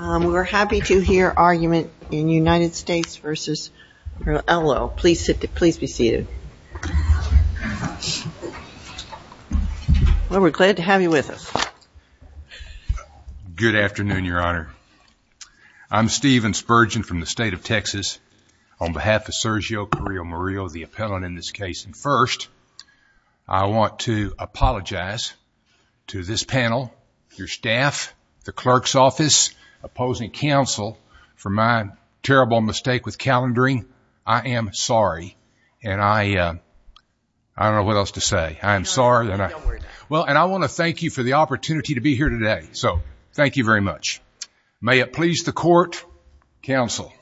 We're happy to hear argument in United States versus Ello. Please sit, please be seated. Well, we're glad to have you with us. Good afternoon, Your Honor. I'm Stephen Spurgeon from the state of Texas on behalf of Sergio Carrillo Murillo, the appellant in this case. And first, I want to apologize to this panel, your staff, the opposing counsel for my terrible mistake with calendaring. I am sorry, and I don't know what else to say. I'm sorry. Well, and I want to thank you for the opportunity to be here today. So thank you very much. May it please the court, counsel.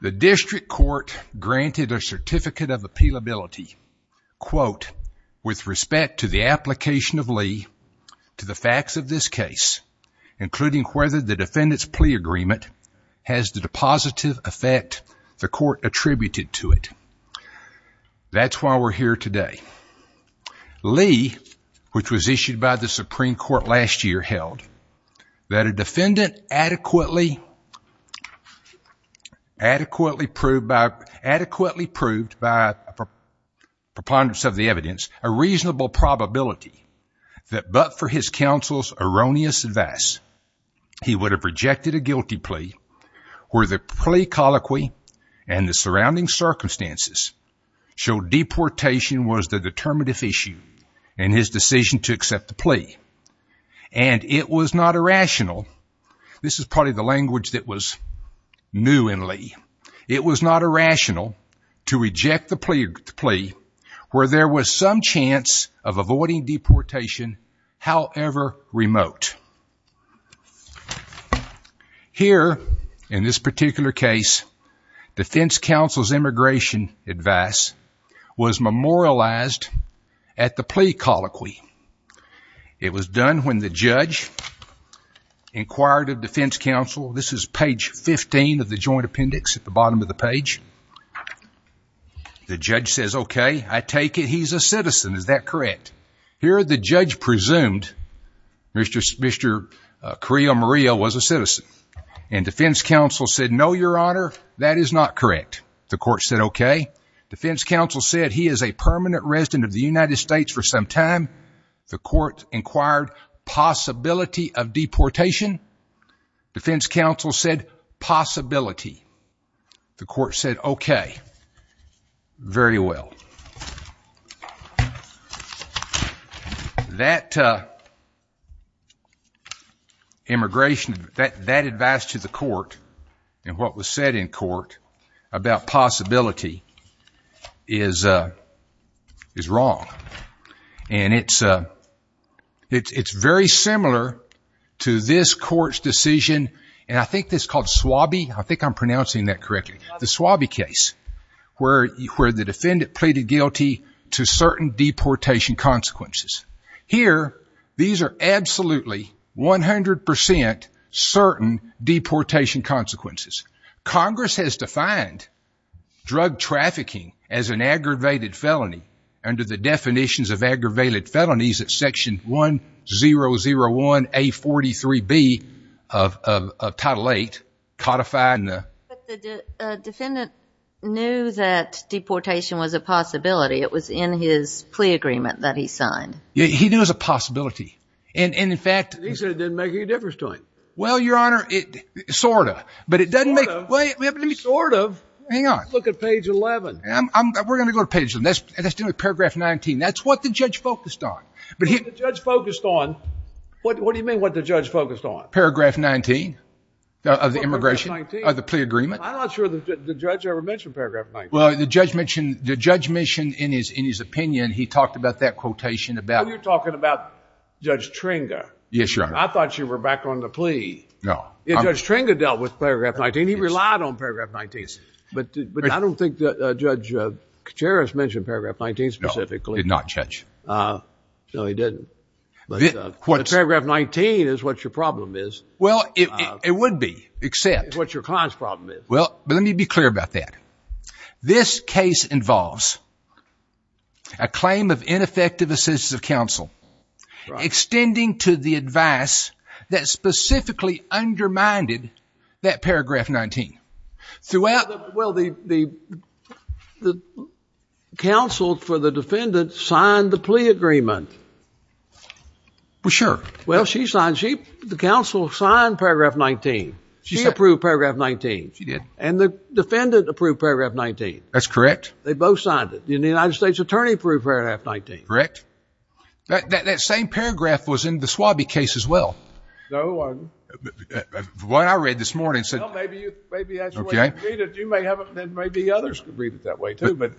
The district court granted a certificate of appeal ability, quote, with respect to the application of Lee to the facts of this case, including whether the defendant's plea agreement has the depositive effect the court attributed to it. That's why we're here today. Lee, which was issued by the Supreme Court last year, held that a defendant adequately, adequately proved by, adequately proved by preponderance of the evidence, a reasonable probability that but for his counsel's erroneous advice, he would have rejected a guilty plea where the plea colloquy and the surrounding circumstances showed deportation was the determinative issue in his decision to accept the plea. And it was not irrational. This is probably the language that was new in Lee. It was not irrational to reject the plea where there was some chance of avoiding deportation, however remote. Here, in this particular case, defense counsel's immigration advice was memorialized at the plea colloquy. It was done when the judge inquired of defense counsel, this is page 15 of the joint appendix at the bottom of the page. The judge says, okay, I take it he's a citizen, is that correct? Here, the judge presumed Mr. Carrillo-Murillo was a citizen. And defense counsel said, no, your honor, that is not correct. The court said, okay. Defense counsel said he is a permanent resident of the United States for some time. The court inquired possibility of deportation. Defense counsel said possibility. The court said, okay, very well. That immigration, that advice to the court and what was said in court about possibility is wrong. And it's very similar to this court's decision, and I think it's called Swabby, I think I'm pronouncing that correctly, the Swabby case where the defendant pleaded guilty to certain deportation consequences. Here, these are absolutely 100% certain deportation consequences. Congress has defined drug trafficking as an aggravated felony under the definitions of aggravated felonies at section 1001A43B of Title VIII, codified in the- But the defendant knew that deportation was a possibility. It was in his plea agreement that he signed. He knew it was a possibility. And in fact- He said it didn't make any difference to him. Well, your honor, sort of. Sort of? Hang on. Let's look at page 11. We're going to go to page 11. That's paragraph 19. That's what the judge focused on. What the judge focused on? What do you mean what the judge focused on? Paragraph 19 of the immigration, of the plea agreement. I'm not sure the judge ever mentioned paragraph 19. Well, the judge mentioned, the judge mentioned in his opinion, he talked about that quotation about- Oh, you're talking about Judge Tringa. Yes, your honor. I thought you were back on the plea. No. Judge Tringa dealt with paragraph 19. He relied on paragraph 19. But I don't think that Judge Kacharis mentioned paragraph 19 specifically. No, he did not, Judge. No, he didn't. But paragraph 19 is what your problem is. Well, it would be, except- What your client's problem is. Well, let me be clear about that. This case involves a claim of ineffective assistance of counsel extending to the advice that specifically undermined that paragraph 19. Throughout- Well, the counsel for the defendant signed the plea agreement. Well, sure. Well, she signed. The counsel signed paragraph 19. She approved paragraph 19. She did. And the defendant approved paragraph 19. That's correct. They both signed it. The United States attorney approved paragraph 19. Correct. That same paragraph was in the Swabie case as well. No, it wasn't. What I read this morning said- Well, maybe that's the way you read it. You may have... Then maybe others could read it that way too, but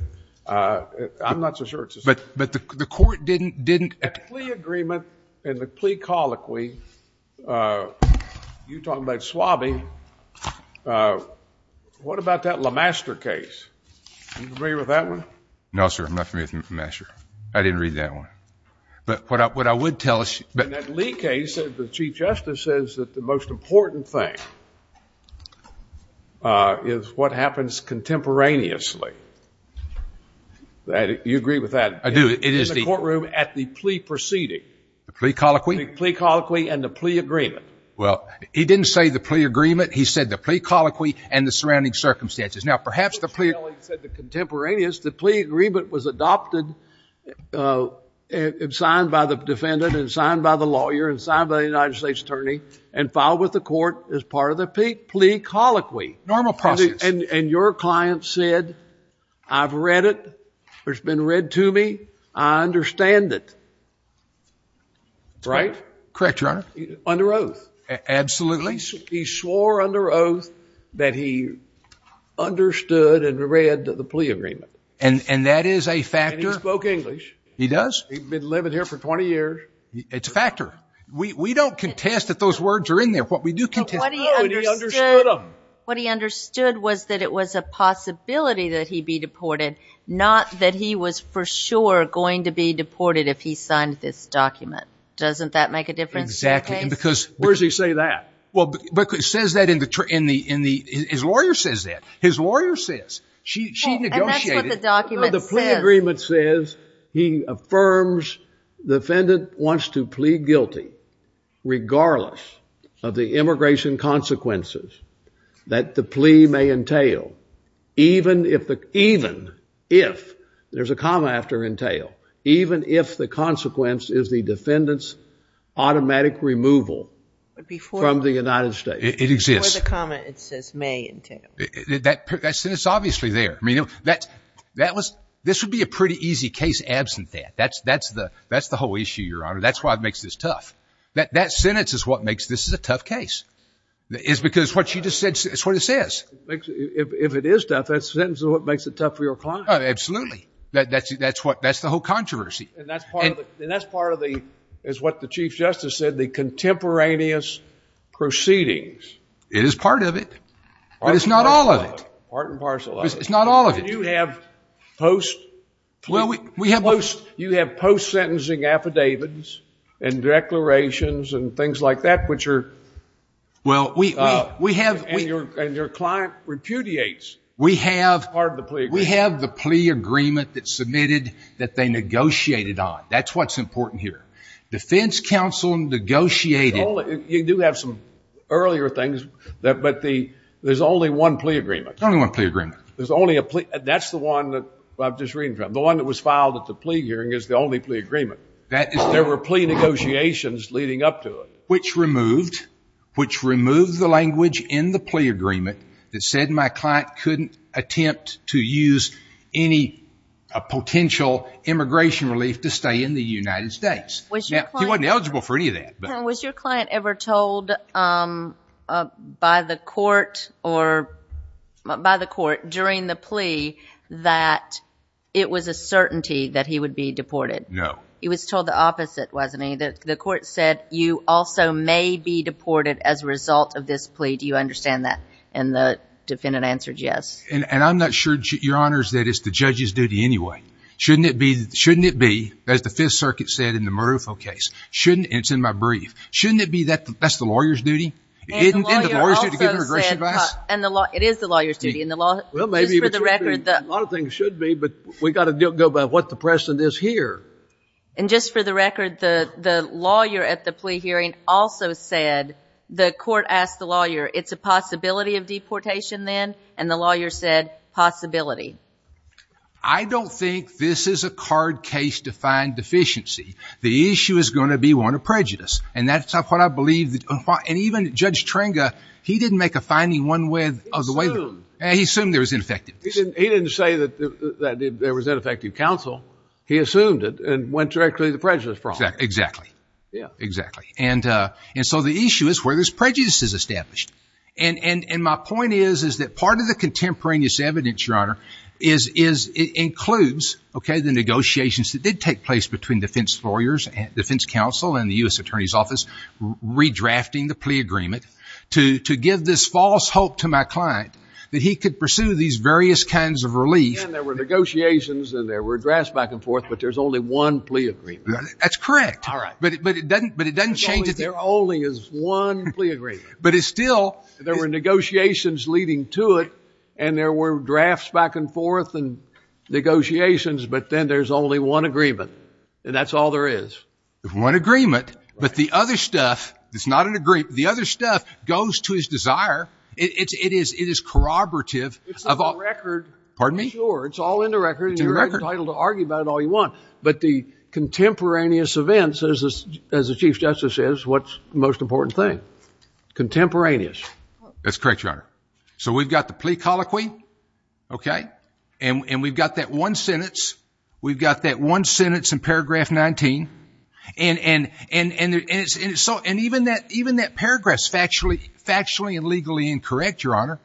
I'm not so sure it's the same. But the court didn't... The plea agreement and the plea colloquy, you're talking about Swabie. What about that LeMaster case? Do you agree with that one? No, sir. I'm not familiar with LeMaster. I didn't read that one. But what I would tell... In that Lee case, the chief justice says that the most important thing is what happens contemporaneously. Do you agree with that? I do. It is the... In the courtroom at the plea proceeding. The plea colloquy? The plea colloquy and the plea agreement. Well, he didn't say the plea agreement. He said the plea colloquy and the surrounding circumstances. Now, perhaps the plea... He said the contemporaneous. The plea agreement was adopted and signed by the defendant and signed by the lawyer and signed by the United States attorney and filed with the court as part of the plea colloquy. Normal process. And your client said, I've read it. It's been read to me. I understand it. Right? Correct, Your Honor. Under oath. Absolutely. He swore under oath that he understood and read the plea agreement. And that is a factor. And he spoke English. He does. He'd been living here for 20 years. It's a factor. We don't contest that those words are in there. What we do contest... But what he understood... And he understood them. What he understood was that it was a possibility that he'd be deported, not that he was for sure going to be deported if he signed this document. Doesn't that make a difference in the case? Exactly. Because... Where does he say that? Well, it says that in the... His lawyer says that. His lawyer says. She negotiated... And that's what the document says. The plea agreement says he affirms the defendant wants to plea guilty regardless of the immigration consequences that the plea may entail, even if the... Even if. There's a comma after entail. Even if the consequence is the defendant's automatic removal from the United States. It exists. Before the comma, it says may entail. That sentence is obviously there. I mean, that was... This would be a pretty easy case absent that. That's the whole issue, Your Honor. That's why it makes this tough. That sentence is what makes this a tough case. It's because what you just said is what it says. If it is tough, that sentence is what makes it tough for your client. Absolutely. That's the whole controversy. And that's part of the... It's what the Chief Justice said, the contemporaneous proceedings. It is part of it. But it's not all of it. Part and parcel of it. It's not all of it. You have post... Well, we have... You have post-sentencing affidavits and declarations and things like that, which are... Well, we have... And your client repudiates... We have... Part of the plea agreement. We have the plea agreement that's submitted that they negotiated on. That's what's important here. Defense counsel negotiated... You do have some earlier things, but there's only one plea agreement. Only one plea agreement. There's only a plea... That's the one that I'm just reading from. The one that was filed at the plea hearing is the only plea agreement. That is... There were plea negotiations leading up to it. Which removed the language in the plea agreement that said my client couldn't attempt to use any potential immigration relief to stay in the United States. He wasn't eligible for any of that, but... Was your client ever told by the court during the plea that it was a certainty that he would be deported? No. He was told the opposite, wasn't he? That the court said you also may be deported as a result of this plea. Do you understand that? And the defendant answered yes. And I'm not sure, Your Honors, that it's the judge's duty anyway. Shouldn't it be, as the Fifth Circuit said in the Marufo case, and it's in my brief, shouldn't it be that that's the lawyer's duty? Isn't it the lawyer's duty to give immigration advice? It is the lawyer's duty. Just for the record... A lot of things should be, but we've got to go by what the precedent is here. And just for the record, the lawyer at the plea hearing also said, the court asked the lawyer, it's a possibility of deportation then? And the lawyer said possibility. I don't think this is a card case to find deficiency. The issue is going to be one of prejudice. And that's what I believe. And even Judge Trenga, he didn't make a finding one way or the other. He assumed. He assumed there was ineffectiveness. He didn't say that there was ineffective counsel. He assumed it and went directly to the prejudice problem. Exactly. Yeah. Exactly. And so the issue is where this prejudice is established. And my point is, is that part of the contemporaneous evidence, Your Honor, is it includes, okay, the negotiations that did take place between defense lawyers and defense counsel and the U.S. Attorney's Office redrafting the plea agreement to give this false hope to my client that he could pursue these various kinds of relief. And there were negotiations and there were drafts back and forth, but there's only one plea agreement. That's correct. All right. But it doesn't change... There only is one plea agreement. But it still... There were negotiations leading to it and there were drafts back and forth and negotiations, but then there's only one agreement. And that's all there is. One agreement, but the other stuff, it's not an agreement, the other stuff goes to his desire. It is corroborative of all... It's in the record. Pardon me? Sure. It's all in the record. It's in the record. And you're entitled to argue about it all you want. But the contemporaneous events, as the Chief Justice says, what's the most important thing? Contemporaneous. That's correct, Your Honor. So we've got the plea colloquy, okay? And we've got that one sentence. We've got that one sentence in paragraph 19. And even that paragraph's factually and legally incorrect, Your Honor.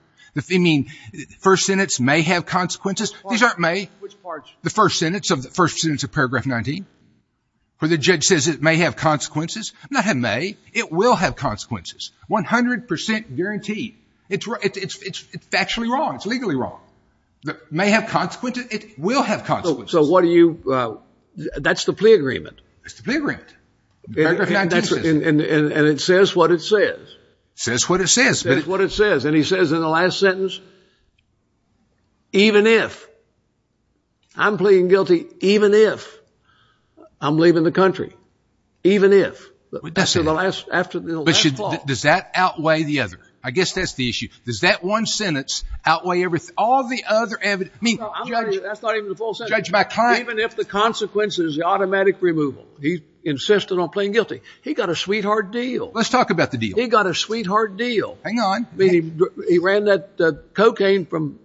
I mean, the first sentence may have consequences. These aren't may. Which part? The first sentence of paragraph 19, where the judge says it may have consequences. Not have may. It will have consequences. 100% guaranteed. It's factually wrong. It's legally wrong. It may have consequences. It will have consequences. So what do you... That's the plea agreement. That's the plea agreement. Paragraph 19 says... And it says what it says. It says what it says. It says what it says. And he says in the last sentence, Even if... I'm pleading guilty even if I'm leaving the country. Even if. That's in the last clause. But does that outweigh the other? I guess that's the issue. Does that one sentence outweigh all the other evidence? I mean, judge... That's not even the full sentence. Judge, my client... Even if the consequence is the automatic removal. He insisted on pleading guilty. He got a sweetheart deal. Let's talk about the deal. He got a sweetheart deal. Hang on. He ran that cocaine from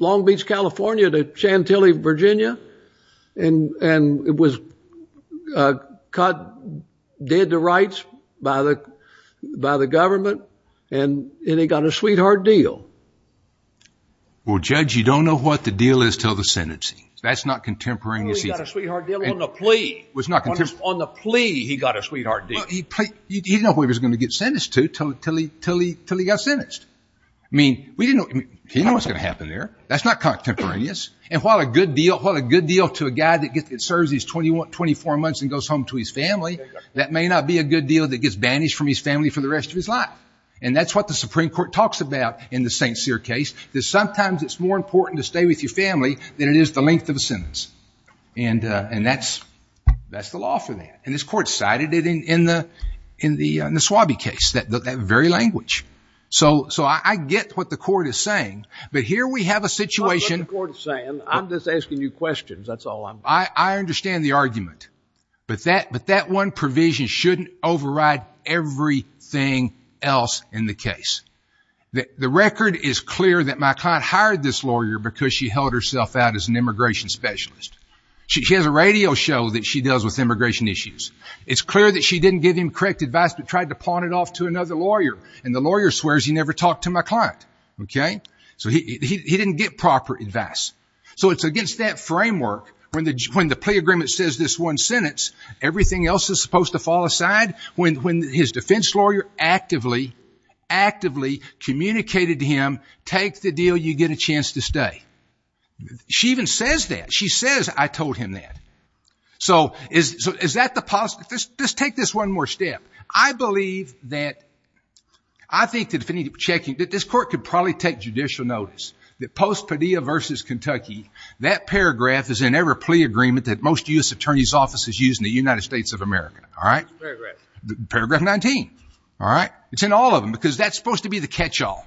Long Beach, California to Chantilly, Virginia. And it was cut... Dead to rights by the government. And he got a sweetheart deal. Well, judge, you don't know what the deal is until the sentence. That's not contemporaneous. He got a sweetheart deal on the plea. It was not contemporaneous. On the plea, he got a sweetheart deal. He didn't know who he was going to get sentenced to until he got sentenced. I mean, he didn't know what was going to happen there. That's not contemporaneous. And while a good deal to a guy that serves these 24 months and goes home to his family, that may not be a good deal that gets banished from his family for the rest of his life. And that's what the Supreme Court talks about in the St. Cyr case. That sometimes it's more important to stay with your family than it is the length of a sentence. And that's the law for that. And this court cited it in the Swabie case, that very language. So I get what the court is saying. But here we have a situation... I don't know what the court is saying. I'm just asking you questions. That's all I'm... I understand the argument. But that one provision shouldn't override everything else in the case. The record is clear that my client hired this lawyer because she held herself out as an immigration specialist. She has a radio show that she does with immigration issues. It's clear that she didn't give him correct advice but tried to pawn it off to another lawyer. And the lawyer swears he never talked to my client. Okay? So he didn't get proper advice. So it's against that framework. When the plea agreement says this one sentence, everything else is supposed to fall aside? When his defense lawyer actively, actively communicated to him, take the deal, you get a chance to stay. She even says that. She says, I told him that. So is that the... Let's take this one more step. I believe that... I think that if we need to be checking, that this court could probably take judicial notice that post-Padilla v. Kentucky, that paragraph is in every plea agreement that most U.S. Attorney's offices use in the United States of America. All right? Which paragraph? Paragraph 19. All right? It's in all of them because that's supposed to be the catch-all.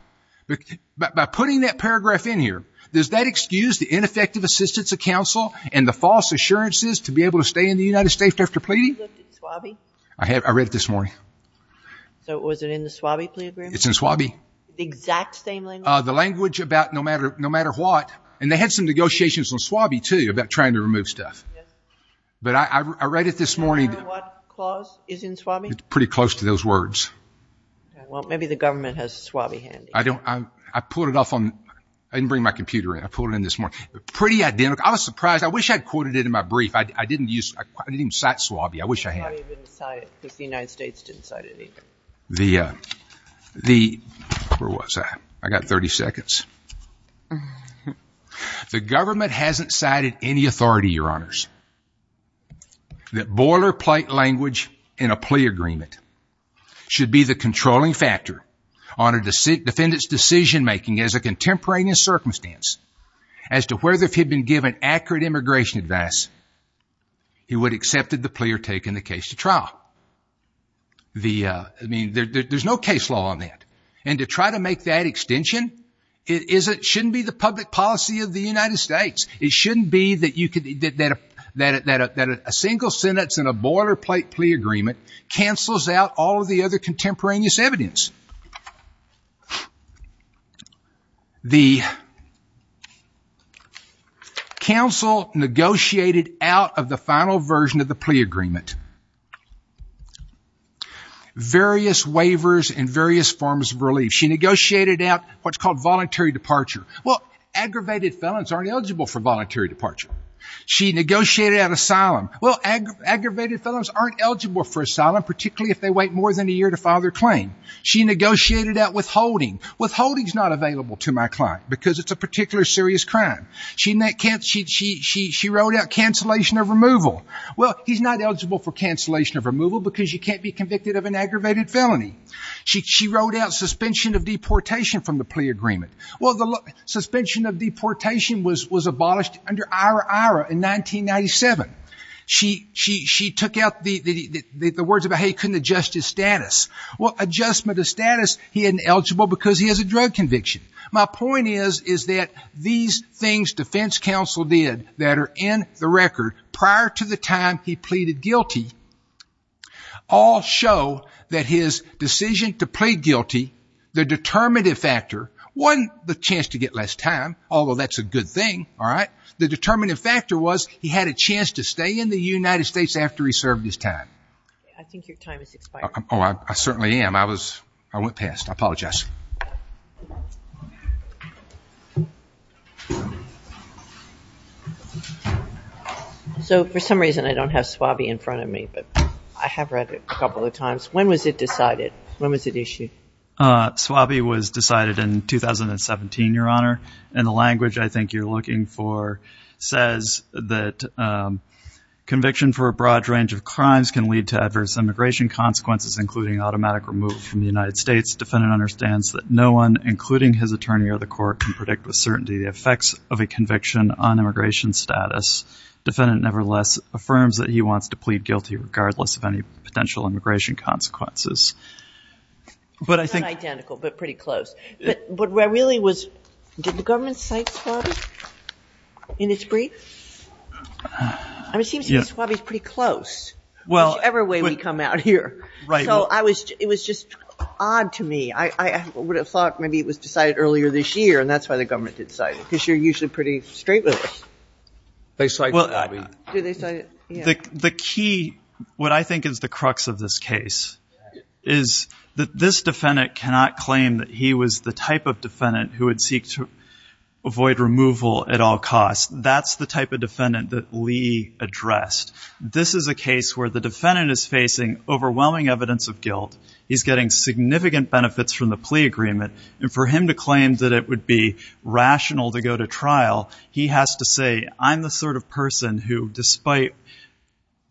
By putting that paragraph in here, does that excuse the ineffective assistance of counsel and the false assurances to be able to stay in the United States after pleading? I read it this morning. So was it in the SWABI plea agreement? It's in SWABI. The exact same language? The language about no matter what. And they had some negotiations on SWABI, too, about trying to remove stuff. But I read it this morning. Do you remember what clause is in SWABI? It's pretty close to those words. Well, maybe the government has SWABI handy. I didn't bring my computer in. I pulled it in this morning. Pretty identical. I was surprised. I wish I had quoted it in my brief. I didn't even cite SWABI. I wish I had. You probably didn't cite it because the United States didn't cite it either. Where was I? I got 30 seconds. The government hasn't cited any authority, Your Honors, that boilerplate language in a plea agreement should be the controlling factor on a defendant's decision-making as a contemporaneous circumstance as to whether if he had been given accurate immigration advice he would have accepted the plea or taken the case to trial. There's no case law on that. And to try to make that extension, it shouldn't be the public policy of the United States. It shouldn't be that a single sentence in a boilerplate plea agreement cancels out all of the other contemporaneous evidence. The counsel negotiated out of the final version of the plea agreement various waivers and various forms of relief. She negotiated out what's called voluntary departure. Well, aggravated felons aren't eligible for voluntary departure. She negotiated out asylum. Well, aggravated felons aren't eligible for asylum, particularly if they wait more than a year to file their claim. She negotiated out withholding. Withholding is not available to my client because it's a particular serious crime. She wrote out cancellation of removal. Well, he's not eligible for cancellation of removal because you can't be convicted of an aggravated felony. She wrote out suspension of deportation from the plea agreement. Well, the suspension of deportation was abolished under Ira Ira in 1997. She took out the words about how he couldn't adjust his status. Well, adjustment of status, he isn't eligible because he has a drug conviction. My point is that these things defense counsel did that are in the record prior to the time he pleaded guilty all show that his decision to plead guilty, the determinative factor wasn't the chance to get less time, although that's a good thing, all right? The determinative factor was he had a chance to stay in the United States after he served his time. I think your time is expiring. Oh, I certainly am. I went past. I apologize. So for some reason I don't have SWABI in front of me, but I have read it a couple of times. When was it decided? When was it issued? SWABI was decided in 2017, Your Honor. And the language I think you're looking for says that conviction for a broad range of crimes can lead to adverse immigration consequences, including automatic removal from the United States. Defendant understands that no one, including his attorney or the court, can predict with certainty the effects of a conviction on immigration status. Defendant, nevertheless, affirms that he wants to plead guilty regardless of any potential immigration consequences. Not identical, but pretty close. But where I really was, did the government cite SWABI in its brief? It seems to me SWABI is pretty close, whichever way we come out here. So it was just odd to me. I would have thought maybe it was decided earlier this year, and that's why the government didn't cite it, because you're usually pretty straight with us. They cited SWABI. Did they cite it? Yeah. The key, what I think is the crux of this case, is that this defendant cannot claim that he was the type of defendant who would seek to avoid removal at all costs. That's the type of defendant that Lee addressed. This is a case where the defendant is facing overwhelming evidence of guilt. He's getting significant benefits from the plea agreement. And for him to claim that it would be rational to go to trial, he has to say, I'm the sort of person who, despite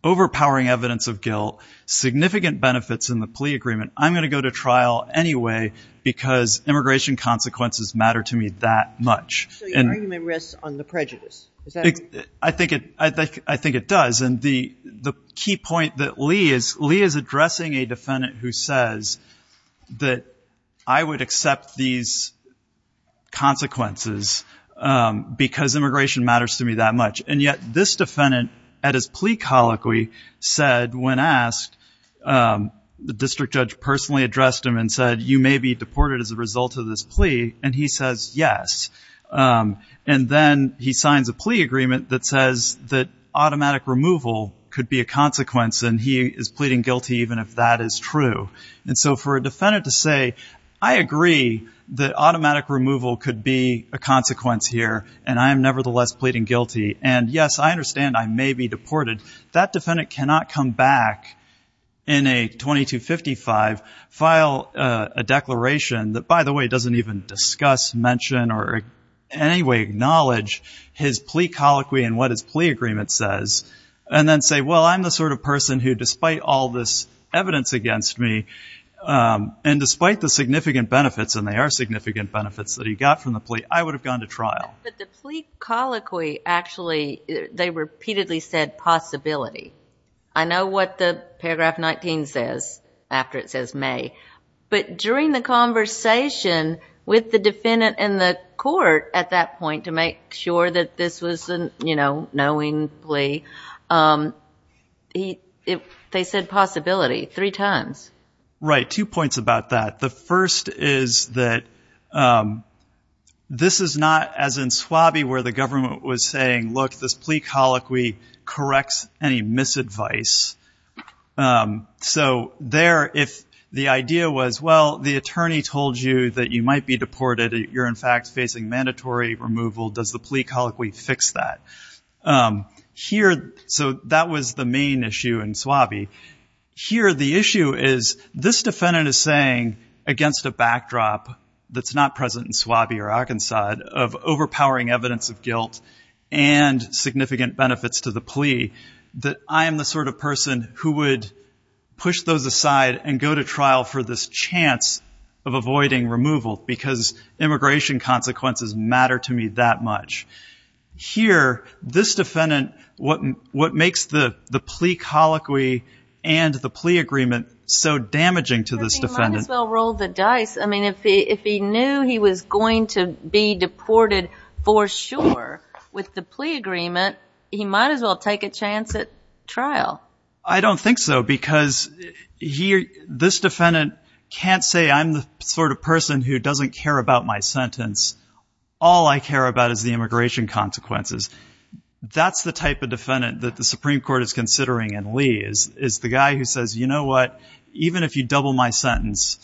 overpowering evidence of guilt, significant benefits in the plea agreement, I'm going to go to trial anyway, because immigration consequences matter to me that much. So your argument rests on the prejudice. I think it does. And the key point that Lee is, Lee is addressing a defendant who says that I would accept these consequences because immigration matters to me that much. And yet this defendant, at his plea colloquy, said when asked, the district judge personally addressed him and said, you may be deported as a result of this plea. And he says, yes. And then he signs a plea agreement that says that automatic removal could be a consequence. And he is pleading guilty even if that is true. And so for a defendant to say, I agree that automatic removal could be a consequence here, and I am nevertheless pleading guilty. And yes, I understand I may be deported. That defendant cannot come back in a 2255, file a declaration that, by the way, doesn't even discuss, mention, or in any way acknowledge his plea colloquy and what his plea agreement says, and then say, well, I'm the sort of person who, despite all this evidence against me, and despite the significant benefits, and there are significant benefits that he got from the plea, I would have gone to trial. But the plea colloquy actually, they repeatedly said possibility. I know what the paragraph 19 says after it says may. But during the conversation with the defendant and the court at that point to make sure that this was a knowing plea, they said possibility three times. Right. Two points about that. The first is that this is not as in Swabie where the government was saying, look, this plea colloquy corrects any misadvice. So there, if the idea was, well, the attorney told you that you might be deported, you're in fact facing mandatory removal, does the plea colloquy fix that? No. Here, so that was the main issue in Swabie. Here, the issue is this defendant is saying, against a backdrop that's not present in Swabie or Arkansas, of overpowering evidence of guilt and significant benefits to the plea, that I am the sort of person who would push those aside and go to trial for this chance of avoiding removal because immigration consequences matter to me that much. Here, this defendant, what makes the plea colloquy and the plea agreement so damaging to this defendant... He might as well roll the dice. I mean, if he knew he was going to be deported for sure with the plea agreement, he might as well take a chance at trial. I don't think so, because this defendant can't say, I'm the sort of person who doesn't care about my sentence. All I care about is the immigration consequences. That's the type of defendant that the Supreme Court is considering in Lee, is the guy who says, you know what? Even if you double my sentence,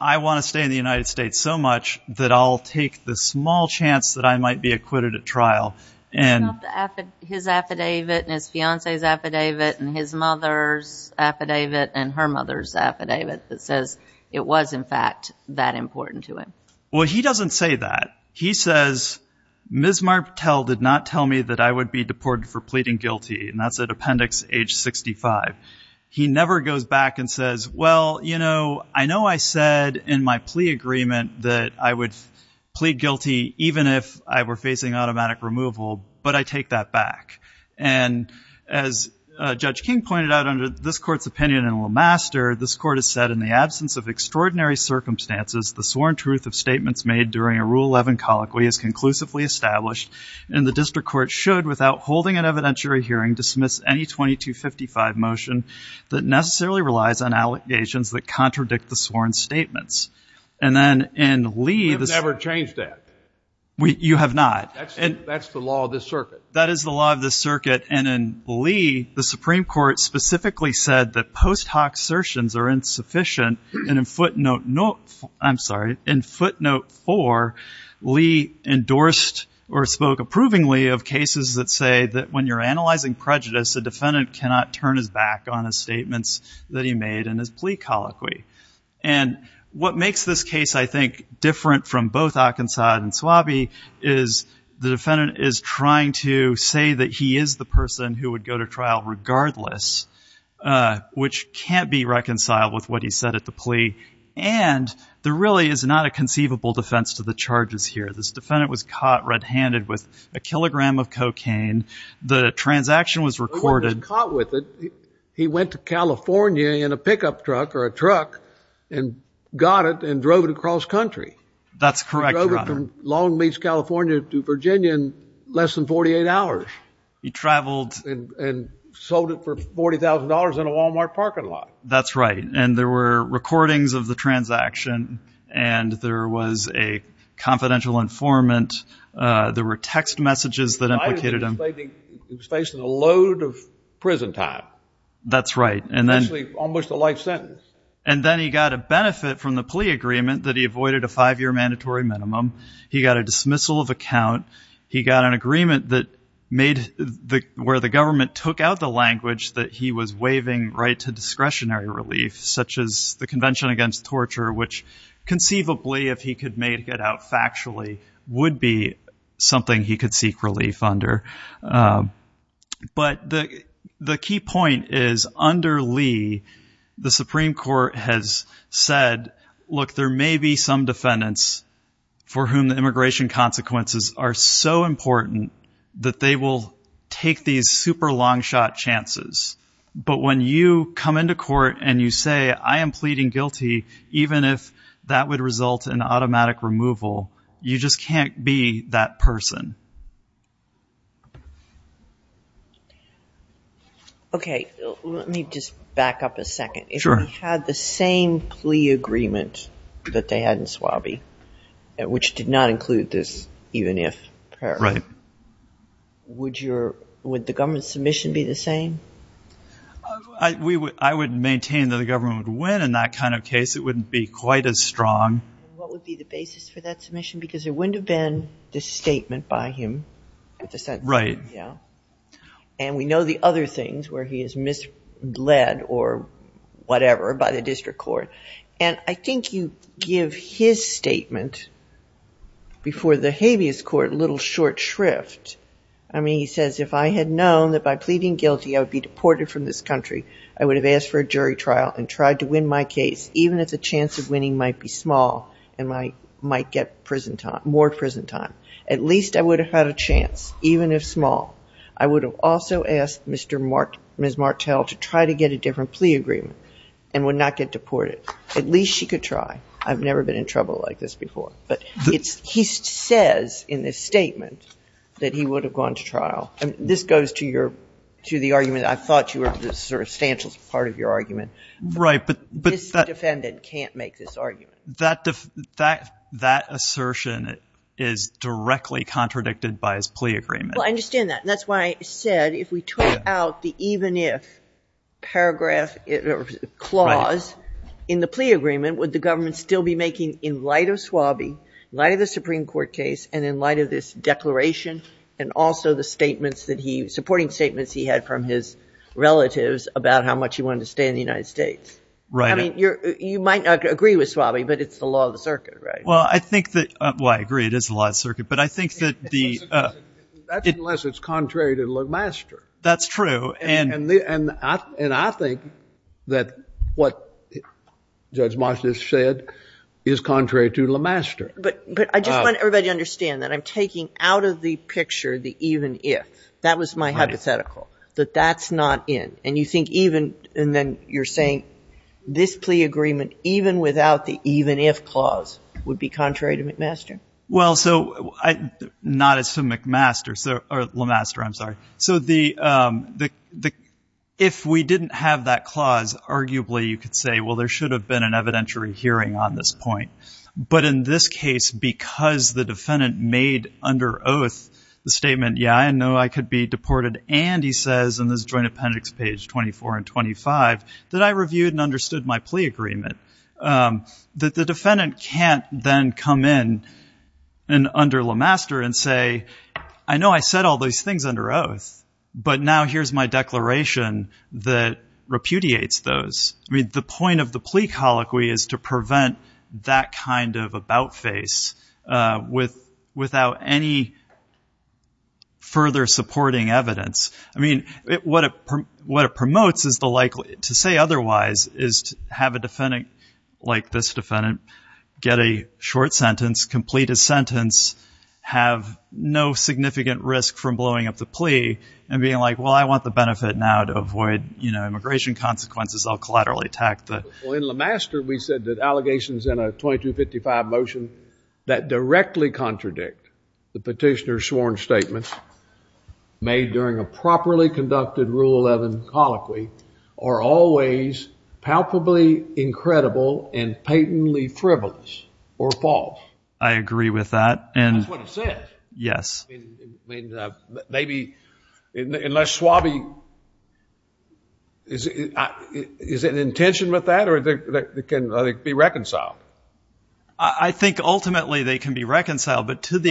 I want to stay in the United States so much that I'll take the small chance that I might be acquitted at trial. His affidavit and his fiancée's affidavit and his mother's affidavit and her mother's affidavit that says it was, in fact, that important to him. Well, he doesn't say that. He says, Ms. Martell did not tell me that I would be deported for pleading guilty, and that's at Appendix H65. He never goes back and says, well, you know, I know I said in my plea agreement that I would plead guilty even if I were facing automatic removal, but I take that back. And as Judge King pointed out under this Court's opinion in Will Master, this Court has said, in the absence of extraordinary circumstances, the sworn truth of statements made during a Rule 11 colloquy is conclusively established, and the district court should, without holding an evidentiary hearing, dismiss any 2255 motion that necessarily relies on allegations that contradict the sworn statements. And then in Lee... We've never changed that. You have not. That's the law of this circuit. That is the law of this circuit, and in Lee, the Supreme Court specifically said that post hoc certians are insufficient, and in footnote... I'm sorry. In footnote 4, Lee endorsed or spoke approvingly of cases that say that when you're analyzing prejudice, a defendant cannot turn his back on his statements that he made in his plea colloquy. And what makes this case, I think, different from both Occonsod and Suabe is the defendant is trying to say that he is the person who would go to trial regardless, which can't be reconciled with what he said at the plea. And there really is not a conceivable defense to the charges here. This defendant was caught red-handed with a kilogram of cocaine. The transaction was recorded. He wasn't caught with it. He went to California in a pickup truck or a truck and got it and drove it across country. That's correct, Your Honor. He drove it from Long Beach, California to Virginia in less than 48 hours. He traveled... And sold it for $40,000 in a Walmart parking lot. That's right. And there were recordings of the transaction and there was a confidential informant. There were text messages that implicated him. He was facing a load of prison time. That's right. Almost a life sentence. And then he got a benefit from the plea agreement that he avoided a five-year mandatory minimum. He got a dismissal of account. He got an agreement where the government took out the language that he was waiving right to discretionary relief such as the Convention Against Torture which conceivably if he could make it out factually would be something he could seek relief under. But the key point is under Lee the Supreme Court has said, look, there may be some defendants for whom immigration consequences are so important that they will take these super long-shot chances. But when you come into court and you say, I am pleading guilty, even if that would result in automatic removal you just can't be that person. Okay. Let me just back up a second. If we had the same plea agreement that they had in I'll include this even if prayer. Right. Would the government's submission be the same? I would maintain that the government would win in that kind of case. It wouldn't be quite as strong. What would be the basis for that submission? Because there wouldn't have been this statement by him Right. And we know the other things where he is misled or whatever by the district court. And I think you give his statement before the habeas court a little short shrift I mean, he says, if I had known that by pleading guilty I would be deported from this country, I would have asked for a jury trial and tried to win my case even if the chance of winning might be small and I might get more prison time. At least I would have had a chance, even if small. I would have also asked Ms. Martell to try to get a different plea agreement and would not get deported. At least she could try. I've never been in trouble like this before. But he says in this statement that he would have gone to trial. This goes to the argument I thought you were the substantial part of your argument. Right. But this defendant can't make this argument. That assertion is directly contradicted by his plea agreement. I understand that. That's why I said if we took out the even if paragraph clause in the plea agreement would the government still be making in light of Swabie in light of the Supreme Court case and in light of this declaration and also the statements that he, supporting statements he had from his relatives about how much he wanted to stay in the United States. Right. I mean you might not agree with Swabie but it's the law of the circuit. Well I think that, well I agree it is the law of the circuit but I think that the That's unless it's contrary to McMaster. That's true and I think that what Judge Moskowitz said is contrary to LeMaster. But I just want everybody to understand that I'm taking out of the picture the even if. That was my hypothetical. That that's not in. And you think even, and then you're saying this plea agreement even without the even if clause would be contrary to McMaster. Well so, not as to McMaster, or LeMaster I'm sorry. So the if we didn't have that clause arguably you could say well there should have been an evidentiary hearing on this point. But in this case because the defendant made under oath the statement yeah I know I could be deported and he says in this joint appendix page 24 and 25 that I reviewed and understood my plea agreement that the defendant can't then come in and under LeMaster and say I know I said all those things under oath but now here's my declaration that repudiates those. I mean the point of the plea colloquy is to prevent that kind of about face without any further supporting evidence. I mean what it promotes is to say otherwise is to have a defendant like this defendant get a short sentence, complete a sentence have no significant risk from blowing up the plea and being like well I want the benefit now to avoid you know immigration consequences I'll collaterally attack the. Well in LeMaster we said that allegations in a 2255 motion that directly contradict the petitioner sworn statement made during a properly conducted Rule 11 colloquy are always palpably incredible and patently frivolous or false. I agree with that and that's what it said. Yes. Maybe unless Schwab is it an intention with that or can they be reconciled? I think ultimately they can be reconciled but to the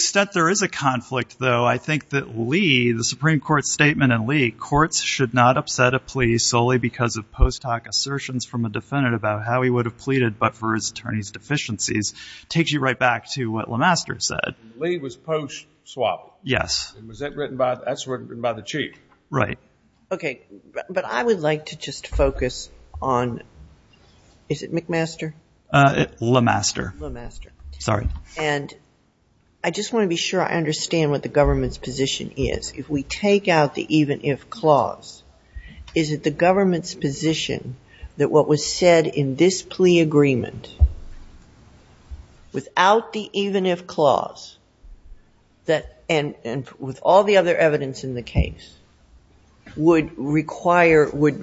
extent there is a conflict though I think that Lee, the Supreme Court statement in Lee, courts should not upset a plea solely because of post hoc assertions from a defendant about how he would have pleaded but for his attorney's back to what LeMaster said. Lee was post Schwab. Yes. That's written by the chief. Right. Okay but I would like to just focus on is it McMaster? LeMaster. LeMaster. Sorry. And I just want to be sure I understand what the government's position is. If we take out the even if clause is it the government's position that what was said in this plea agreement without the even if clause that and with all the other evidence in the case would require would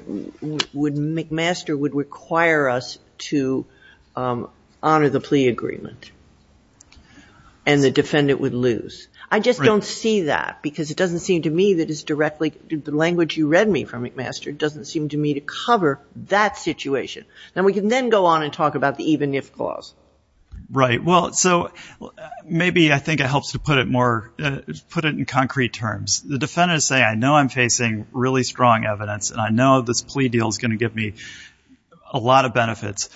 McMaster would require us to honor the plea agreement and the defendant would lose. I just don't see that because it doesn't seem to me that it's directly the language you read me from McMaster doesn't seem to me to cover that situation. Now we can then go on and talk about the even if clause. Right. Well so maybe I think it helps to put it more put it in concrete terms. The defendant is saying I know I'm facing really strong evidence and I know this plea deal is going to give me a lot of benefits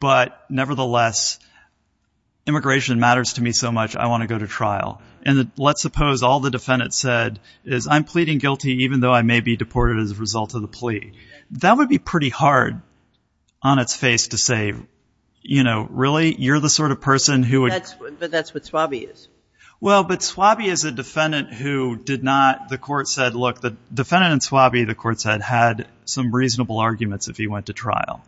but nevertheless immigration matters to me so much I want to go to trial and let's suppose all the defendant said is I'm pleading guilty even though I may be deported as a result of the plea. That would be pretty hard on its face to say you know really you're the sort of person who would. But that's what Swabie is. Well but Swabie is a defendant who did not the court said look the defendant in Swabie the court said had some reasonable arguments if he went to trial.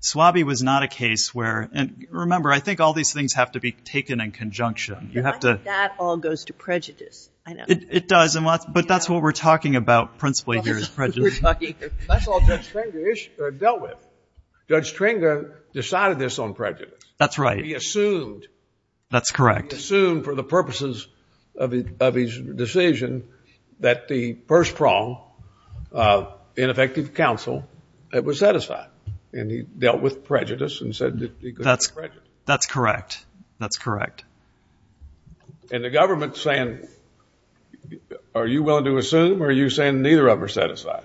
Swabie was not a case where and remember I think all these things have to be taken in conjunction. I think that all goes to prejudice. It does but that's what we're talking about principally That's all Judge Tringa dealt with Judge Tringa decided this on prejudice That's right. He assumed That's correct. He assumed for the purposes of his decision that the first prong ineffective counsel was satisfied and he dealt with prejudice That's correct That's correct And the government saying are you willing to assume or are you saying neither of them are satisfied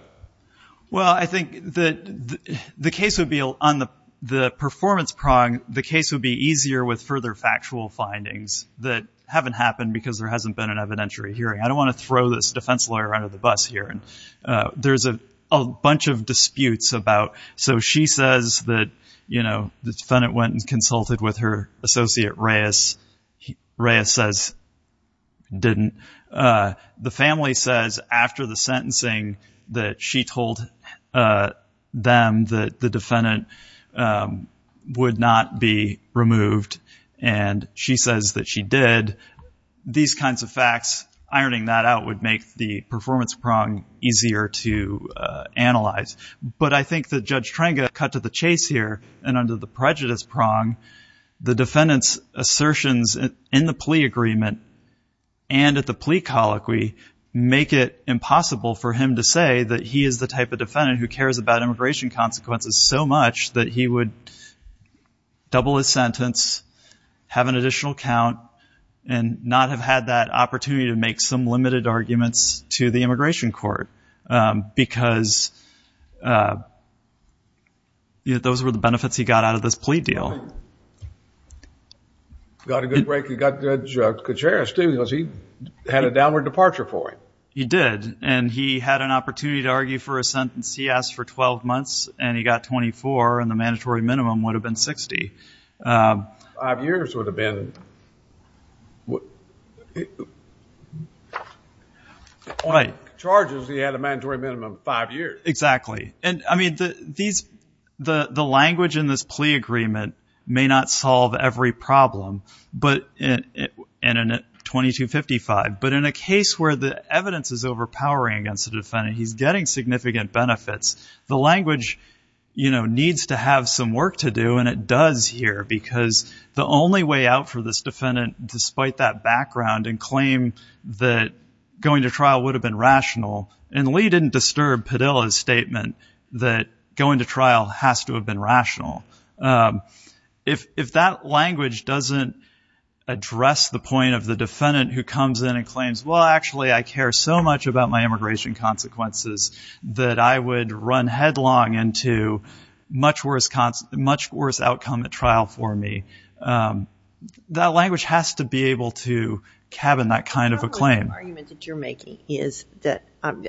Well I think that the case would be on the performance prong the case would be easier with further factual findings that haven't happened because there hasn't been an evidentiary hearing. I don't want to throw this defense lawyer under the bus here There's a bunch of disputes about so she says that you know the defendant went and consulted with her associate Reyes. Reyes says didn't the family says after the sentencing that she told them that the defendant would not be removed and she says that she did these kinds of facts ironing that out would make the performance prong easier to analyze but I think that Judge Tringa cut to the chase here and under the prejudice prong the defendant's assertions in the plea agreement and at the plea colloquy make it impossible for him to say that he is the type of defendant who cares about immigration consequences so much that he would double his sentence have an additional count and not have had that opportunity to make some limited arguments to the immigration court because those were the benefits he got out of this plea deal Well he got a good break he got Judge Gutierrez too because he had a downward departure for him. He did and he had an opportunity to argue for a sentence he asked for 12 months and he got 24 and the mandatory minimum would have been 60 5 years would have been charges he had a mandatory minimum of 5 years. Exactly and I mean these the language in this plea agreement may not solve every problem but and in 2255 but in a case where the evidence is overpowering against the defendant he's getting significant benefits. The language you know needs to have some work to do and it does here because the only way out for this defendant despite that background and claim that going to trial would have been rational and Lee didn't disturb Padilla's statement that going to trial has to have been rational if that language doesn't address the point of the defendant who comes in and claims well actually I care so much about my immigration consequences that I would run headlong into much worse outcome at trial for me that language has to be able to cabin that kind of a claim. Probably the argument that you're making is that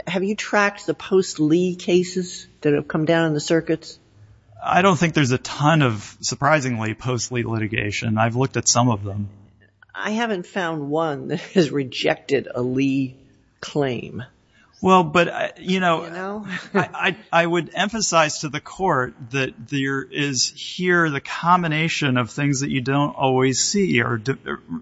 have you tracked the post Lee cases that have come down in the circuits? I don't think there's a ton of surprisingly post Lee litigation. I've looked at some of them. I haven't found one that has rejected a Lee claim. Well but you know I would emphasize to the court that there is here the combination of things that you don't always see or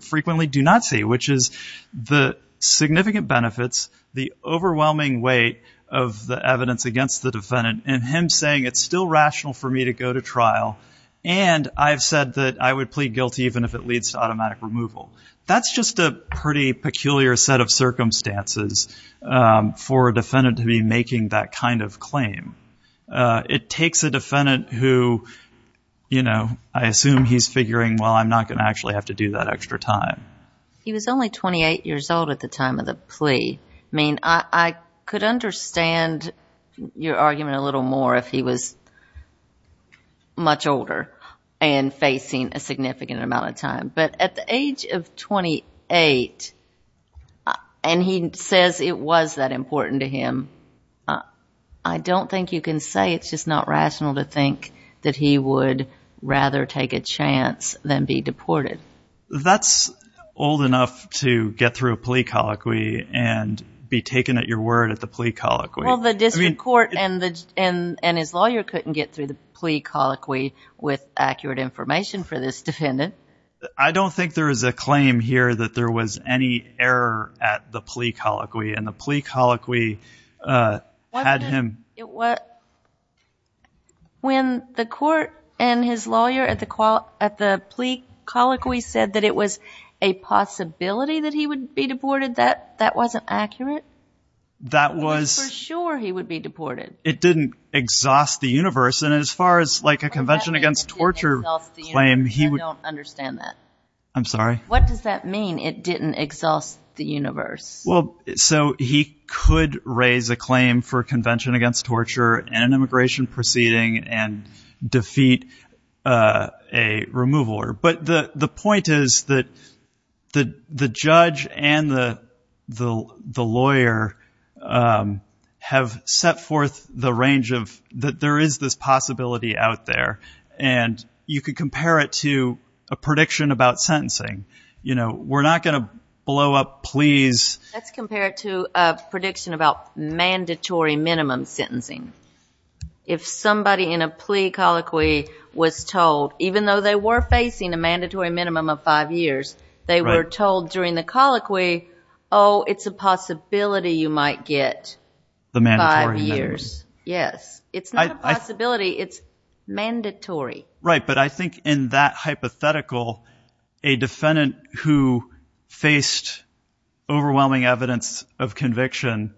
frequently do not see which is the significant benefits the overwhelming weight of the evidence against the defendant and him saying it's still rational for me to go to trial and I've said that I would plead guilty even if it leads to automatic removal. That's just a pretty peculiar set of circumstances for a defendant to be making that kind of claim. It takes a defendant who you know I assume he's figuring well I'm not going to actually have to do that extra time. He was only 28 years old at the time of the plea. I mean I could understand your argument a little more if he was much older and facing a significant amount of time but at the age of 28 and he says it was that important to him I don't think you can say it's just not rational to think that he would rather take a chance than be deported. That's old enough to get through a plea colloquy and be taken at your word at the plea colloquy. Well the district court and his lawyer couldn't get through the plea colloquy with accurate information for this defendant. I don't think there is a claim here that there was any error at the plea colloquy and the plea colloquy had him When the court and his lawyer at the plea colloquy said that it was a possibility that he would be deported, that wasn't accurate? That was For sure he would be deported. It didn't exhaust the universe and as far as like a Convention Against Torture claim. I don't understand that. I'm sorry. What does that mean it didn't exhaust the universe? Well so he could raise a claim for Convention Against Torture and an immigration proceeding and defeat a remover but the point is that the judge and the lawyer have set forth the range of that there is this possibility out there and you could compare it to a prediction about sentencing. You know we're not going to blow up pleas Let's compare it to a prediction about mandatory minimum sentencing. If somebody in a plea colloquy was told even though they were facing a mandatory minimum of 5 years they were told during the colloquy oh it's a possibility you might get 5 years. Yes It's not a possibility it's mandatory. Right but I think in that hypothetical a defendant who faced overwhelming evidence of conviction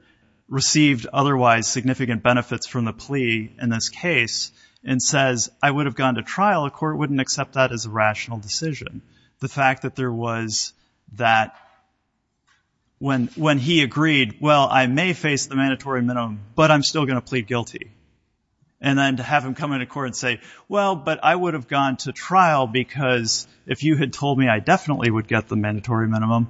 received otherwise significant benefits from the plea in this case and says I would have gone to trial the court wouldn't accept that as a rational decision. The fact that there was that when he agreed well I may face the mandatory minimum but I'm still going to plead guilty and then to have him come into court and say well but I would have gone to trial because if you had told me I definitely would get the mandatory minimum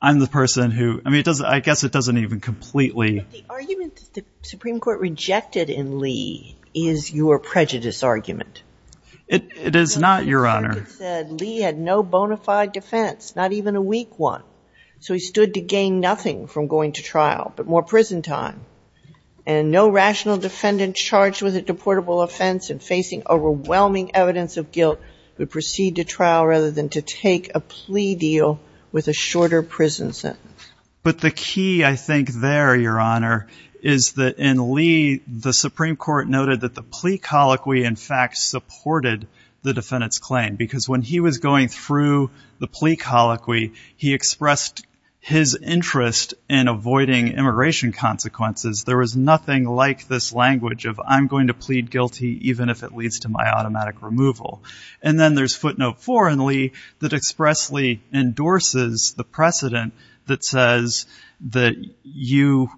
I'm the person who I guess it doesn't even completely The argument that the Supreme Court rejected in Lee is your prejudice argument It is not your honor Lee had no bona fide defense not even a weak one so he stood to gain nothing from going to trial but more prison time and no rational defendant charged with a deportable offense and facing overwhelming evidence of guilt would proceed to trial rather than to take a plea deal with a shorter prison sentence but the key I think there your honor is that in Lee the Supreme Court noted that the plea colloquy in fact supported the defendant's claim because when he was going through the plea colloquy he expressed his interest in avoiding immigration consequences there was nothing like this language of I'm going to plead guilty even if it leads to my automatic removal and then there's footnote four in Lee that expressly endorses the precedent that says that you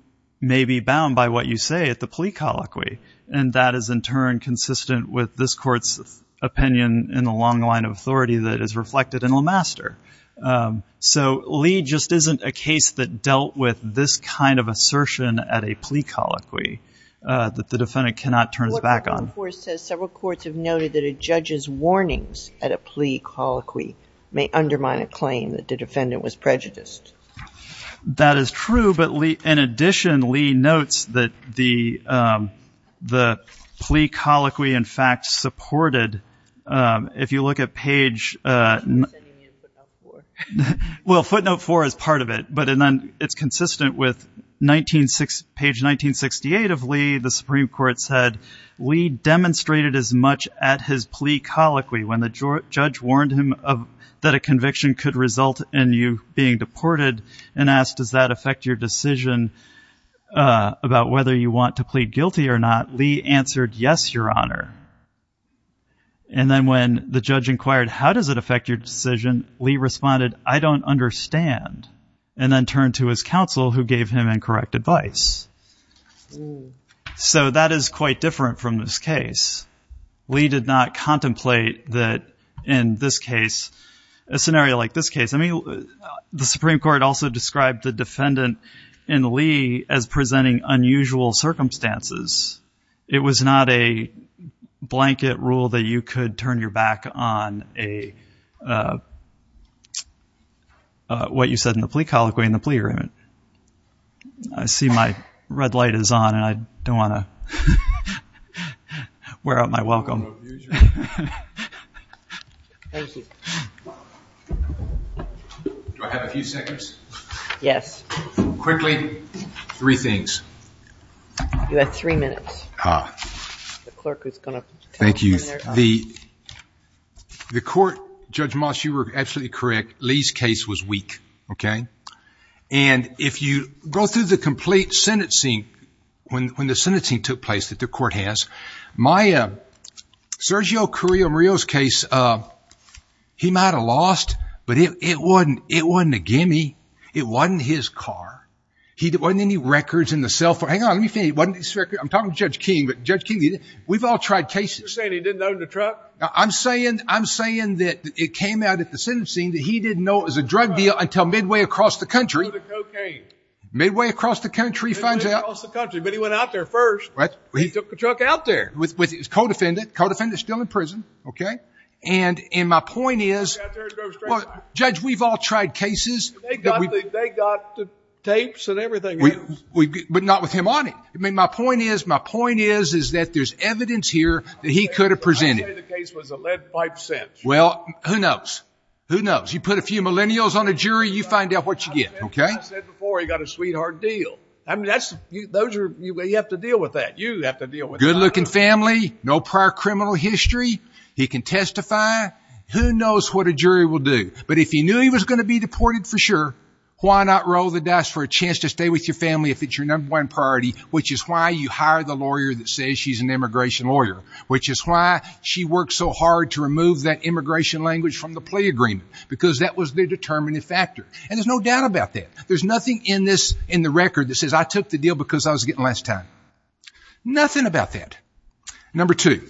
may be bound by what you say at the plea colloquy and that is in turn consistent with this court's opinion in the long line of authority that is reflected in Lemaster so Lee just isn't a case that dealt with this kind of assertion at a plea colloquy that the defendant cannot turn his back on several courts have noted that a judge's warnings at a plea colloquy may undermine a claim that the defendant was prejudiced. That is true but in addition Lee notes that the plea colloquy in fact supported if you look at page well footnote four is part of it but it's consistent with page 1968 of Lee the Supreme Court said Lee demonstrated as much at his plea colloquy when the conviction could result in you being deported and asked does that affect your decision about whether you want to plead guilty or not Lee answered yes your honor and then when the judge inquired how does it affect your decision Lee responded I don't understand and then turned to his counsel who gave him incorrect advice so that is quite different from this case Lee did not contemplate that in this case a scenario like this case the Supreme Court also described the defendant in Lee as presenting unusual circumstances it was not a blanket rule that you could turn your back on a what you said in the plea colloquy in the plea agreement I see my red light is on and I don't want to wear out my welcome thank you do I have a few seconds? yes quickly three things you have three minutes ah thank you the court judge Moss you were absolutely correct Lee's case was weak and if you go through the complete sentencing when the sentencing took place that the court has my Sergio Carrillo Murillo's case he might have lost but it wasn't it wasn't a gimme it wasn't his car it wasn't any records in the cell phone I'm talking to Judge King we've all tried cases you're saying he didn't own the truck I'm saying that it came out at the sentencing that he didn't know it was a drug deal until midway across the country midway across the country he went out there first he took the truck out there co-defendant still in prison and my point is judge we've all tried cases they got the tapes and everything but not with him on it my point is there's evidence here that he could have presented well who knows you put a few millennials on a jury you find out what you get he got a sweetheart deal you have to deal with that good looking family no prior criminal history he can testify who knows what a jury will do but if you knew he was going to be deported for sure why not roll the dice for a chance to stay with your family if it's your number one priority which is why you hire the lawyer that says she's an immigration lawyer which is why she worked so hard to remove that immigration language from the plea agreement because that was the determining factor and there's no doubt about that there's nothing in the record that says I took the deal because I was getting last time nothing about that number two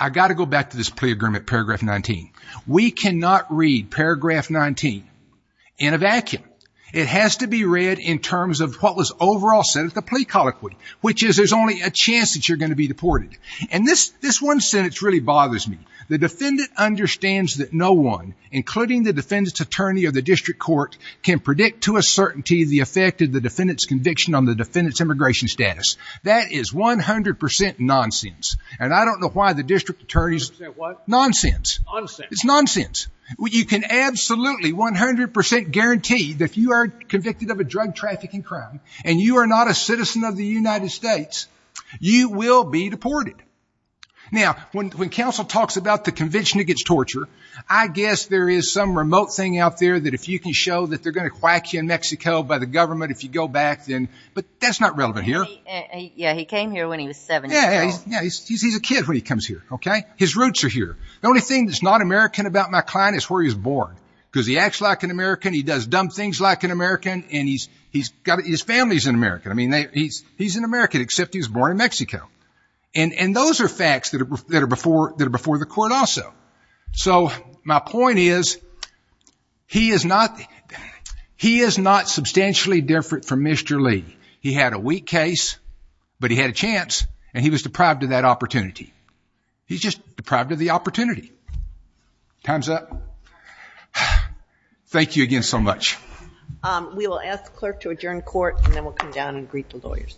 I got to go back to this plea agreement paragraph 19 we cannot read paragraph 19 in a vacuum it has to be read in terms of what was overall said of the plea colloquy which is there's only a chance that you're going to be deported and this one sentence really bothers me the defendant understands that no one including the defendant's attorney or the district court can predict to a certainty the effect of the defendant's conviction on the defendant's immigration status that is 100% nonsense and I don't know why the district attorney nonsense it's nonsense you can absolutely 100% guarantee that you are convicted of a drug trafficking crime and you are not a citizen of the United States you will be deported now when counsel talks about the there is some remote thing out there that if you can show that they're going to whack you in Mexico by the government if you go back then but that's not relevant here he came here when he was 7 years old he's a kid when he comes here okay his roots are here the only thing that's not American about my client is where he was born because he acts like an American he does dumb things like an American and he's his family is an American he's an American except he was born in Mexico and those are facts that are before the court also so my point is he is not he is not substantially different from Mr. Lee he had a weak case but he had a chance and he was deprived of that opportunity he's just deprived of the opportunity time's up thank you again so much we will ask the clerk to adjourn court and then we'll come down and greet the lawyers